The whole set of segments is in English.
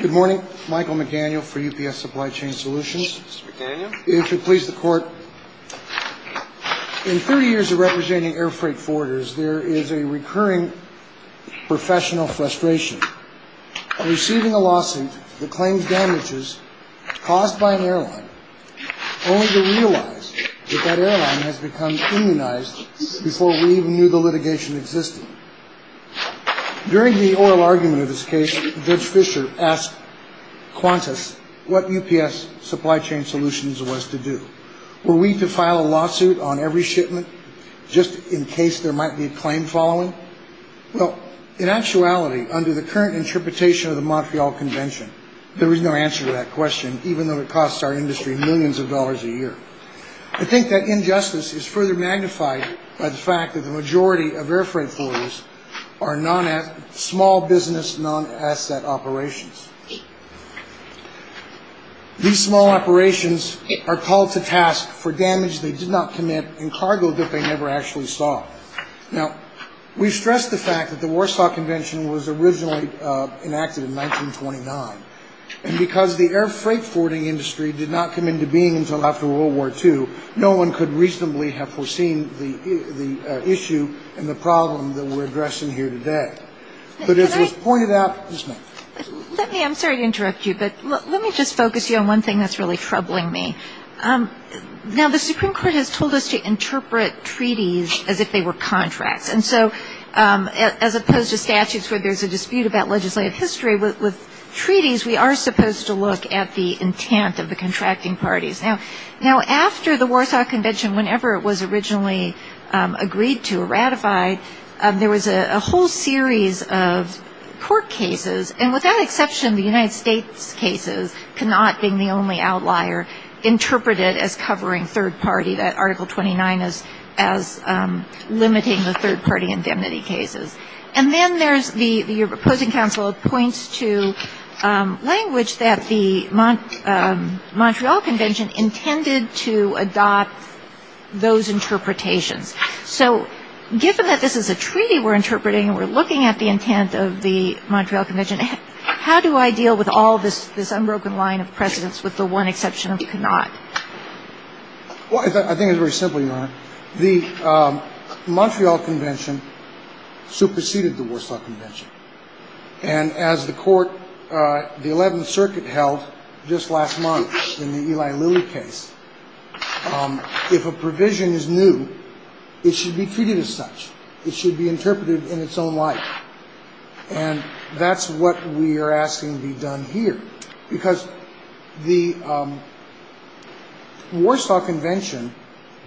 Good morning. Michael McDaniel for UPS Supply Chain Solutions. Mr. McDaniel. If you'll please the court. In 30 years of representing air freight forwarders, there is a recurring professional frustration in receiving a lawsuit that claims damages caused by an airline, only to realize that that airline has become immunized before we even knew the litigation existed. During the oral argument of this case, Judge Fisher asked Qantas what UPS Supply Chain Solutions was to do. Were we to file a lawsuit on every shipment, just in case there might be a claim following? Well, in actuality, under the current interpretation of the Montreal Convention, there is no answer to that question, even though it costs our industry millions of dollars a year. I think that injustice is further magnified by the fact that the majority of air freight forwarders are small business non-asset operations. These small operations are called to task for damage they did not commit in cargo that they never actually saw. Now, we stress the fact that the Warsaw Convention was originally enacted in 1929, and because the air freight forwarding industry did not come into being until after World War II, no one could reasonably have foreseen the issue and the problem that we're addressing here today. But as was pointed out ñ Let me ñ I'm sorry to interrupt you, but let me just focus you on one thing that's really troubling me. Now, the Supreme Court has told us to interpret treaties as if they were contracts, and so as opposed to statutes where there's a dispute about legislative history, with treaties we are supposed to look at the intent of the contracting parties. Now, after the Warsaw Convention, whenever it was originally agreed to or ratified, there was a whole series of court cases, and without exception the United States cases cannot, being the only outlier, interpret it as covering third party, that Article 29 as limiting the third party indemnity cases. And then there's the ñ your opposing counsel points to language that the Montreal Convention intended to adopt those interpretations. So given that this is a treaty we're interpreting and we're looking at the intent of the Montreal Convention, how do I deal with all this unbroken line of precedence with the one exception that we cannot? Well, I think it's very simple, Your Honor. The Montreal Convention superseded the Warsaw Convention, and as the 11th Circuit held just last month in the Eli Lilly case, if a provision is new, it should be treated as such. It should be interpreted in its own light. And that's what we are asking to be done here, because the Warsaw Convention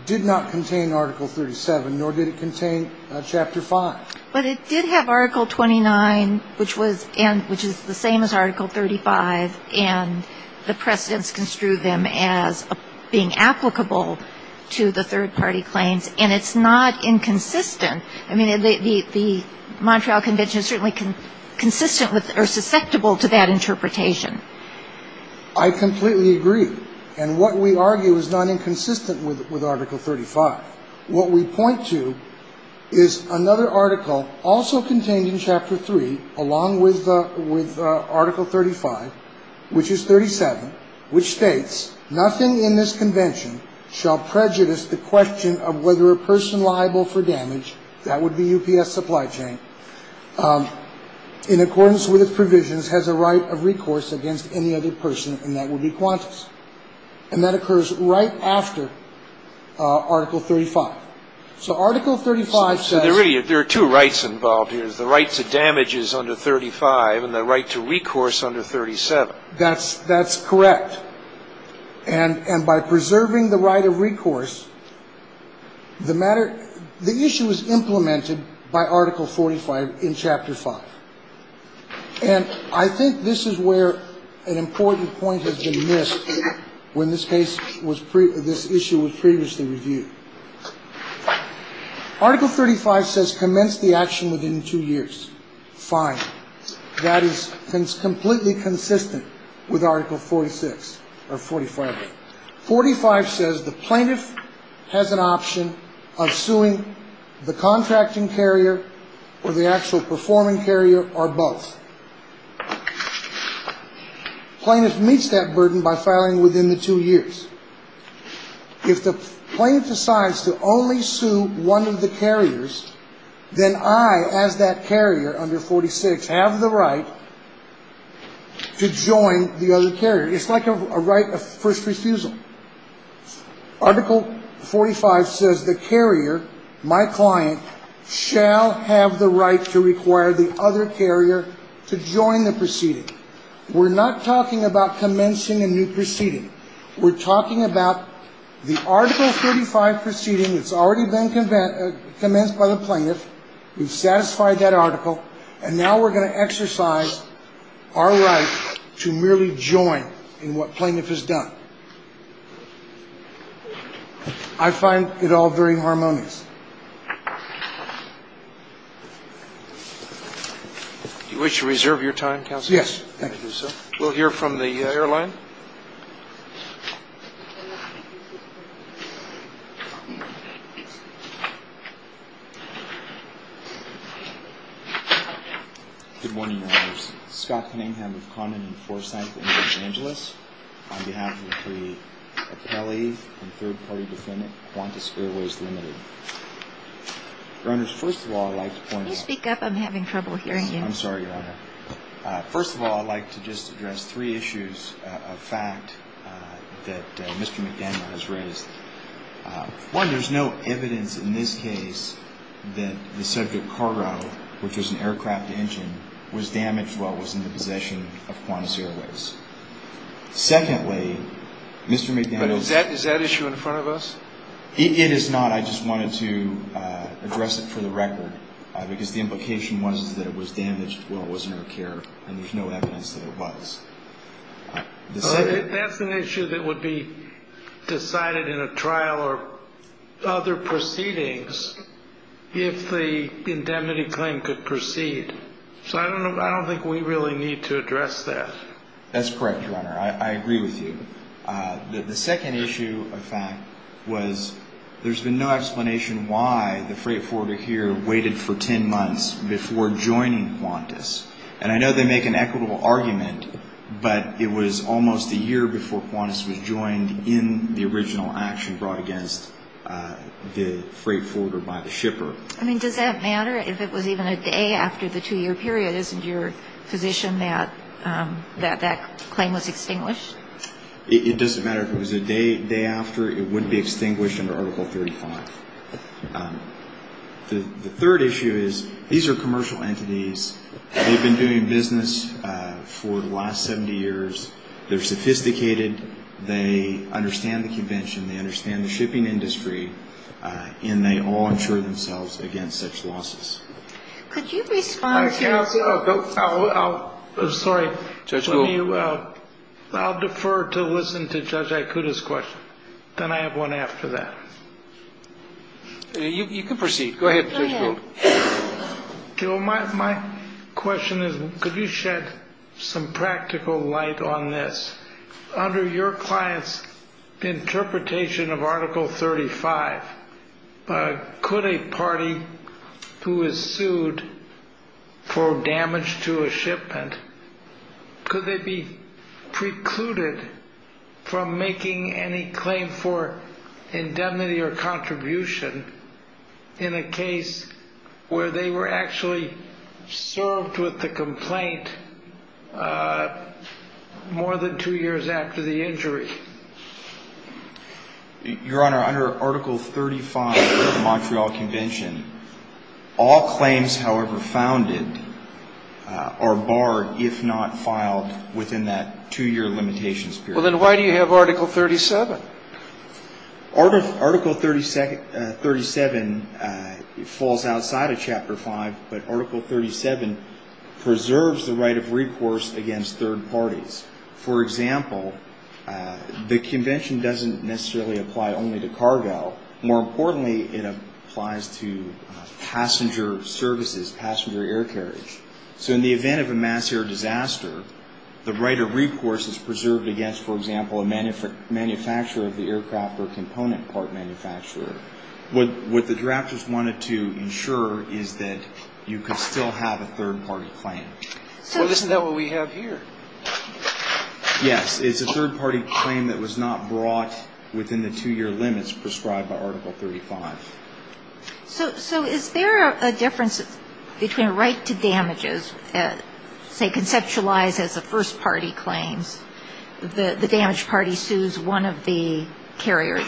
did not contain Article 37, nor did it contain Chapter 5. But it did have Article 29, which was ñ which is the same as Article 35, and the precedence construed them as being applicable to the third party claims, and it's not inconsistent. I completely agree. And what we argue is not inconsistent with Article 35. What we point to is another article also contained in Chapter 3, along with Article 35, which is 37, which states, Nothing in this Convention shall prejudice the question of whether a person liable for damage ñ that would be UPS supply chain ñ in accordance with its provisions has a right of recourse against any other person, and that would be Qantas. And that occurs right after Article 35. So Article 35 says ñ So there are two rights involved here. There's the right to damages under 35 and the right to recourse under 37. That's correct. And by preserving the right of recourse, the matter ñ the issue is implemented by Article 45 in Chapter 5. And I think this is where an important point has been missed when this case was ñ this issue was previously reviewed. Article 35 says commence the action within two years. Fine. That is completely consistent with Article 46 or 45. 45 says the plaintiff has an option of suing the contracting carrier or the actual performing carrier or both. Plaintiff meets that burden by filing within the two years. If the plaintiff decides to only sue one of the carriers, then I, as that carrier under 46, have the right to join the other carrier. It's like a right of first refusal. Article 45 says the carrier, my client, shall have the right to require the other carrier to join the proceeding. We're not talking about commencing a new proceeding. We're talking about the Article 45 proceeding that's already been commenced by the plaintiff, we've satisfied that article, and now we're going to exercise our right to merely join in what plaintiff has done. I find it all very harmonious. Do you wish to reserve your time, counsel? Yes. Thank you, sir. We'll hear from the airline. Good morning, Your Honors. Scott Cunningham with Condon and Forsyth in Los Angeles. On behalf of the appellee and third-party defendant, Qantas Airways Limited. Your Honors, first of all, I'd like to point out. Can you speak up? I'm having trouble hearing you. I'm sorry, Your Honor. First of all, I'd like to just address three issues of fact that Mr. McDaniel has raised. One, there's no evidence in this case that the subject cargo, which was an aircraft engine, was damaged while it was in the possession of Qantas Airways. Secondly, Mr. McDaniel. Is that issue in front of us? It is not. I just wanted to address it for the record because the implication was that it was damaged while it was in our care and there's no evidence that it was. That's an issue that would be decided in a trial or other proceedings if the indemnity claim could proceed. So I don't think we really need to address that. That's correct, Your Honor. I agree with you. The second issue of fact was there's been no explanation why the freight forwarder here waited for ten months before joining Qantas. And I know they make an equitable argument, but it was almost a year before Qantas was joined in the original action brought against the freight forwarder by the shipper. I mean, does that matter if it was even a day after the two-year period? Isn't your position that that claim was extinguished? It doesn't matter if it was a day after. It wouldn't be extinguished under Article 35. The third issue is these are commercial entities. They've been doing business for the last 70 years. They're sophisticated. They understand the convention. They understand the shipping industry. And they all insure themselves against such losses. Could you respond to that? I'll defer to listen to Judge Aikuda's question. Then I have one after that. You can proceed. Go ahead. My question is, could you shed some practical light on this? Under your client's interpretation of Article 35, could a party who is sued for damage to a shipment, could they be precluded from making any claim for indemnity or contribution in a case where they were actually served with the complaint more than two years after the injury? Your Honor, under Article 35 of the Montreal Convention, all claims, however founded, are barred if not filed within that two-year limitations period. Well, then why do you have Article 37? Article 37 falls outside of Chapter 5, but Article 37 preserves the right of recourse against third parties. For example, the convention doesn't necessarily apply only to cargo. More importantly, it applies to passenger services, passenger air carriage. So in the event of a mass air disaster, the right of recourse is preserved against, for example, a manufacturer of the aircraft or a component part manufacturer. What the drafters wanted to insure is that you could still have a third-party claim. Well, isn't that what we have here? Yes, it's a third-party claim that was not brought within the two-year limits prescribed by Article 35. So is there a difference between a right to damages, say conceptualized as a first-party claim, the damaged party sues one of the carriers,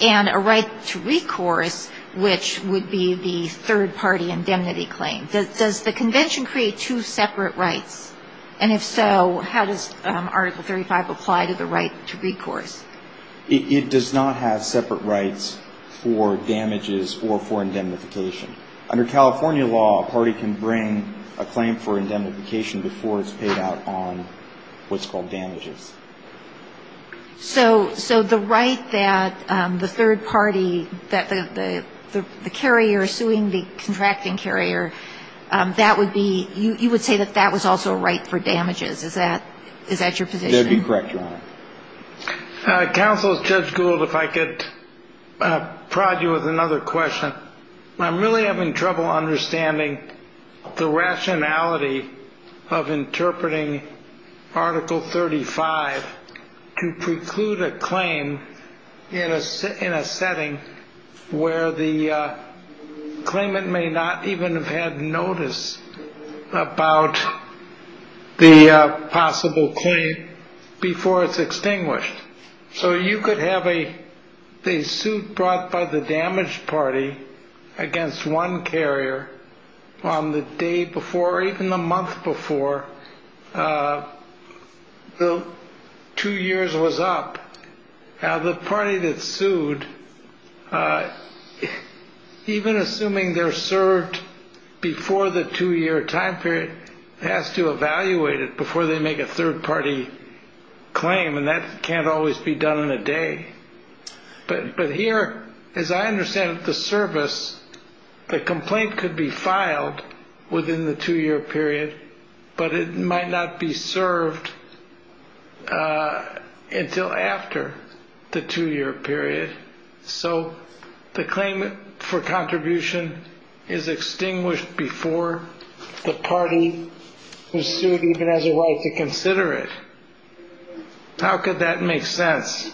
and a right to recourse, which would be the third-party indemnity claim? Does the convention create two separate rights? And if so, how does Article 35 apply to the right to recourse? It does not have separate rights for damages or for indemnification. Under California law, a party can bring a claim for indemnification before it's paid out on what's called damages. So the right that the third party, the carrier suing the contracting carrier, that would be, you would say that that was also a right for damages. Is that your position? That would be correct, Your Honor. Counsel, Judge Gould, if I could prod you with another question. I'm really having trouble understanding the rationality of interpreting Article 35 to preclude a claim in a setting where the claimant may not even have had notice about the possible claim before it's extinguished. So you could have a suit brought by the damaged party against one carrier on the day before, or even the month before the two years was up. Now, the party that sued, even assuming they're served before the two-year time period, has to evaluate it before they make a third-party claim, and that can't always be done in a day. But here, as I understand it, the service, the complaint could be filed within the two-year period, but it might not be served until after the two-year period. So the claim for contribution is extinguished before the party who sued even has a right to consider it. How could that make sense?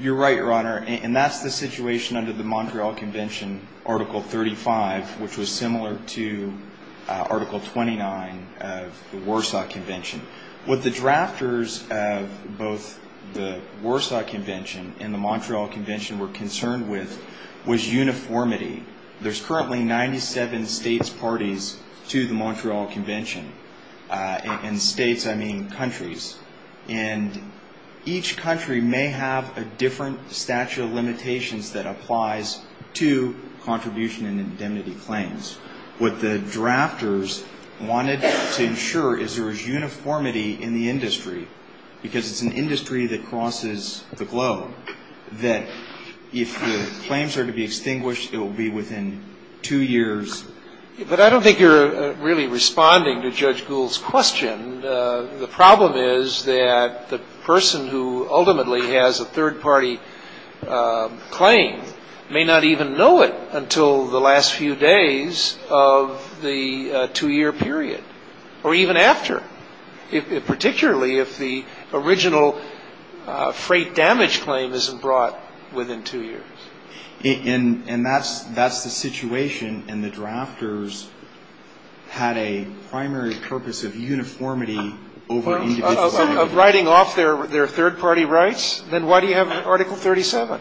You're right, Your Honor, and that's the situation under the Montreal Convention, Article 35, which was similar to Article 29 of the Warsaw Convention. What the drafters of both the Warsaw Convention and the Montreal Convention were concerned with was uniformity. There's currently 97 states' parties to the Montreal Convention. And states, I mean countries. And each country may have a different statute of limitations that applies to contribution and indemnity claims. What the drafters wanted to ensure is there was uniformity in the industry, because it's an industry that crosses the globe, that if the claims are to be extinguished, it will be within two years. But I don't think you're really responding to Judge Gould's question. The problem is that the person who ultimately has a third-party claim may not even know it until the last few days of the two-year period, or even after, particularly if the original freight damage claim isn't brought within two years. And that's the situation, and the drafters had a primary purpose of uniformity over individuality. Of writing off their third-party rights? Then why do you have Article 37?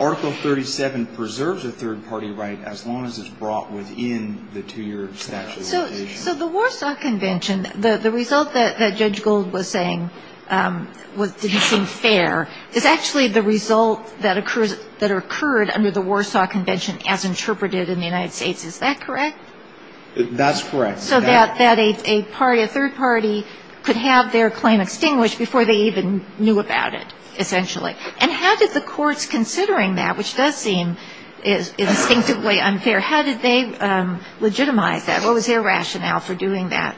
Article 37 preserves a third-party right as long as it's brought within the two-year statute. So the Warsaw Convention, the result that Judge Gould was saying didn't seem fair, is actually the result that occurred under the Warsaw Convention as interpreted in the United States. Is that correct? That's correct. So that a third party could have their claim extinguished before they even knew about it, essentially. And how did the courts, considering that, which does seem instinctively unfair, how did they legitimize that? What was their rationale for doing that?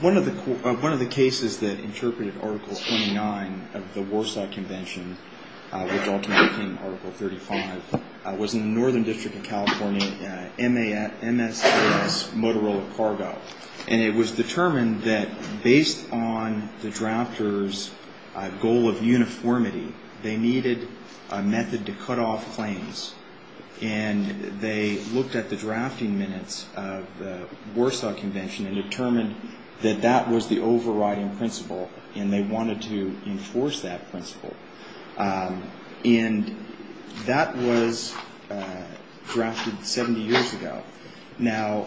One of the cases that interpreted Article 29 of the Warsaw Convention, which ultimately became Article 35, was in the Northern District of California, MSX Motorola Cargo. And it was determined that based on the drafters' goal of uniformity, they needed a method to cut off claims. And they looked at the drafting minutes of the Warsaw Convention and determined that that was the overriding principle, and they wanted to enforce that principle. And that was drafted 70 years ago. Now,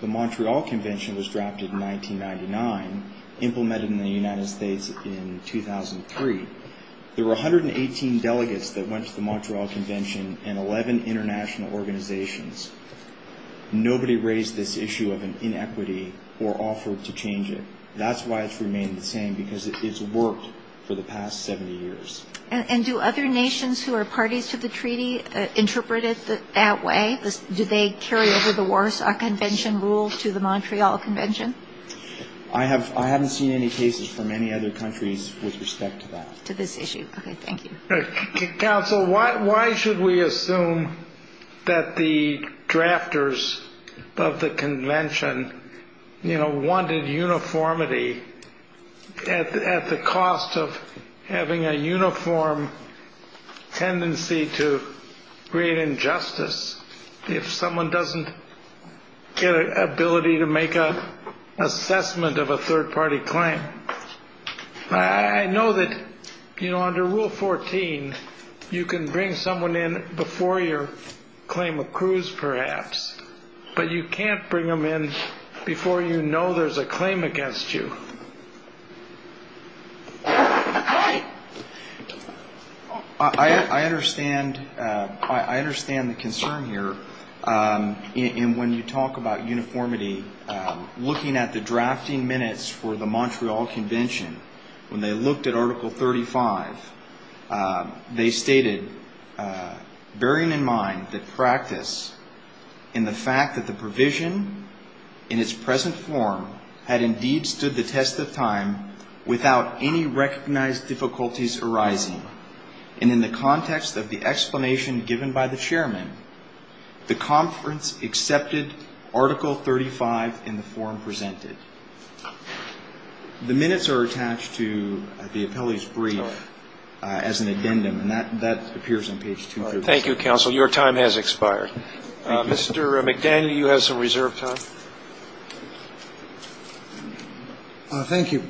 the Montreal Convention was drafted in 1999, implemented in the United States in 2003. There were 118 delegates that went to the Montreal Convention and 11 international organizations. Nobody raised this issue of an inequity or offered to change it. That's why it's remained the same, because it's worked for the past 70 years. And do other nations who are parties to the treaty interpret it that way? Do they carry over the Warsaw Convention rule to the Montreal Convention? I haven't seen any cases from any other countries with respect to that. To this issue? Okay, thank you. Counsel, why should we assume that the drafters of the convention, you know, wanted uniformity at the cost of having a uniform tendency to create injustice? If someone doesn't get an ability to make an assessment of a third-party claim. I know that, you know, under Rule 14, you can bring someone in before your claim accrues, perhaps. But you can't bring them in before you know there's a claim against you. I understand the concern here. And when you talk about uniformity, looking at the drafting minutes for the Montreal Convention, when they looked at Article 35, they stated, bearing in mind the practice and the fact that the provision in its present form had indeed stood the test of time without any recognized difficulties arising. And in the context of the explanation given by the chairman, the conference accepted Article 35 in the form presented. The minutes are attached to the appellee's brief as an addendum. And that appears on page 2. Thank you, Counsel. Your time has expired. Mr. McDaniel, you have some reserve time. Thank you.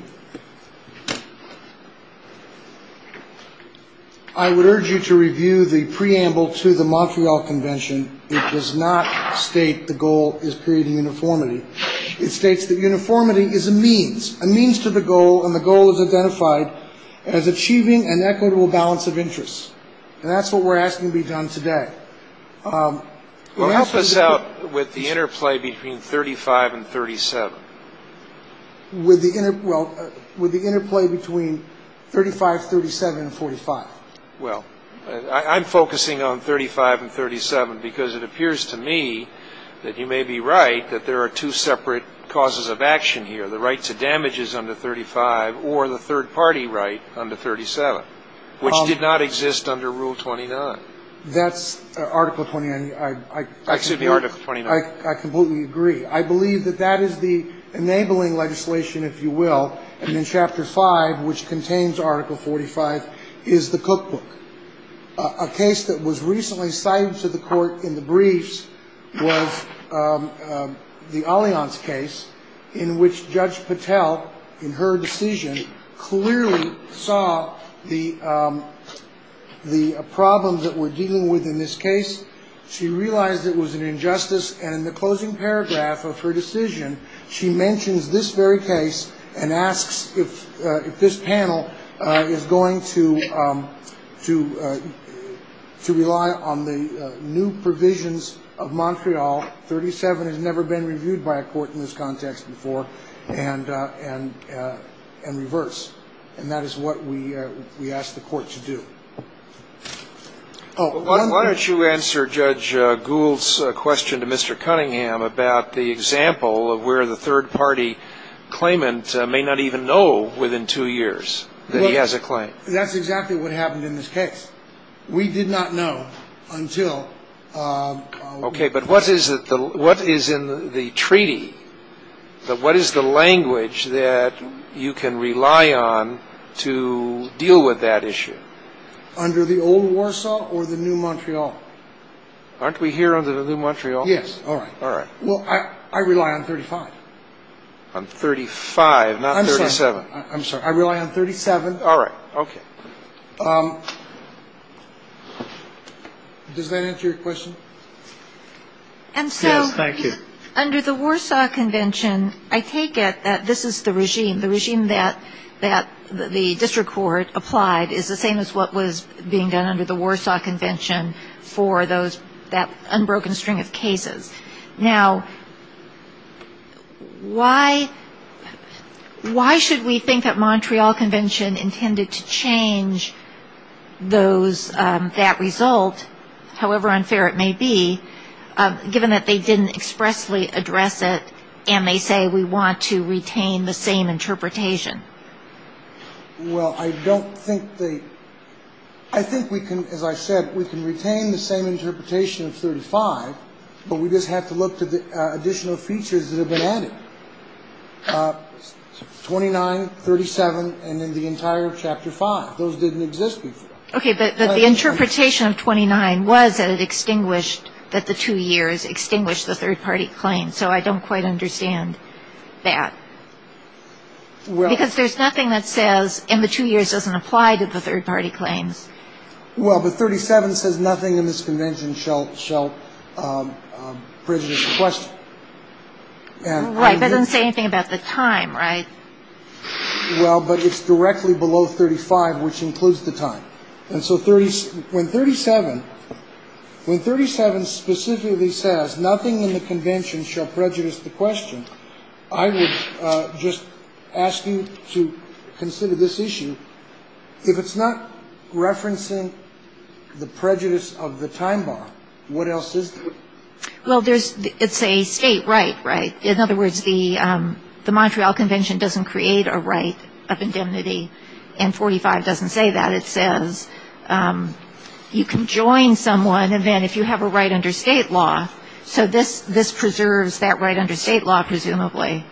I would urge you to review the preamble to the Montreal Convention. It does not state the goal is creating uniformity. It states that uniformity is a means, a means to the goal, and the goal is identified as achieving an equitable balance of interests. And that's what we're asking to be done today. Well, help us out with the interplay between 35 and 37. Well, with the interplay between 35, 37, and 45. Well, I'm focusing on 35 and 37 because it appears to me that you may be right, that there are two separate causes of action here, the right to damages under 35 or the third-party right under 37, which did not exist under Rule 29. That's Article 29. Excuse me, Article 29. I completely agree. I believe that that is the enabling legislation, if you will, and in Chapter 5, which contains Article 45, is the cookbook. A case that was recently cited to the court in the briefs was the Allianz case, in which Judge Patel, in her decision, clearly saw the problems that we're dealing with in this case. She realized it was an injustice, and in the closing paragraph of her decision, she mentions this very case and asks if this panel is going to rely on the new provisions of Montreal. 37 has never been reviewed by a court in this context before, and reverse. And that is what we ask the court to do. Why don't you answer Judge Gould's question to Mr. Cunningham about the example of where the third-party claimant may not even know within two years that he has a claim. That's exactly what happened in this case. Okay, but what is in the treaty? What is the language that you can rely on to deal with that issue? Under the old Warsaw or the new Montreal? Aren't we here under the new Montreal? Yes. All right. All right. Well, I rely on 35. On 35, not 37. I'm sorry. I rely on 37. All right. Okay. Does that answer your question? Yes, thank you. And so under the Warsaw Convention, I take it that this is the regime, the regime that the district court applied is the same as what was being done under the Warsaw Convention for that unbroken string of cases. Now, why should we think that Montreal Convention intended to change those, that result, however unfair it may be, given that they didn't expressly address it and they say we want to retain the same interpretation? Well, I don't think they, I think we can, as I said, we can retain the same interpretation of 35, but we just have to look to the additional features that have been added. 29, 37, and then the entire Chapter 5. Those didn't exist before. Okay, but the interpretation of 29 was that it extinguished, that the two years extinguished the third-party claims, so I don't quite understand that. Because there's nothing that says in the two years doesn't apply to the third-party claims. Well, but 37 says nothing in this Convention shall prejudice the question. Right, but it doesn't say anything about the time, right? Well, but it's directly below 35, which includes the time. And so when 37, when 37 specifically says nothing in the Convention shall prejudice the question, I would just ask you to consider this issue. If it's not referencing the prejudice of the time bar, what else is there? Well, there's, it's a state right, right? In other words, the Montreal Convention doesn't create a right of indemnity, and 45 doesn't say that. It says you can join someone, and then if you have a right under state law, so this preserves that right under state law, presumably.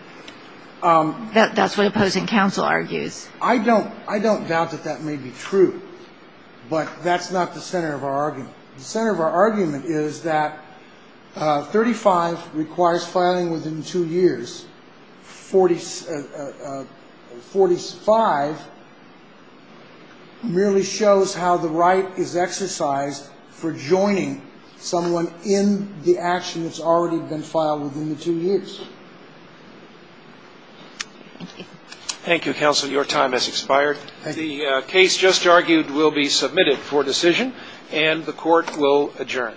That's what opposing counsel argues. I don't doubt that that may be true, but that's not the center of our argument. The center of our argument is that 35 requires filing within two years. 45 merely shows how the right is exercised for joining someone in the action that's already been filed within the two years. Thank you, counsel. Your time has expired. The case just argued will be submitted for decision, and the Court will adjourn.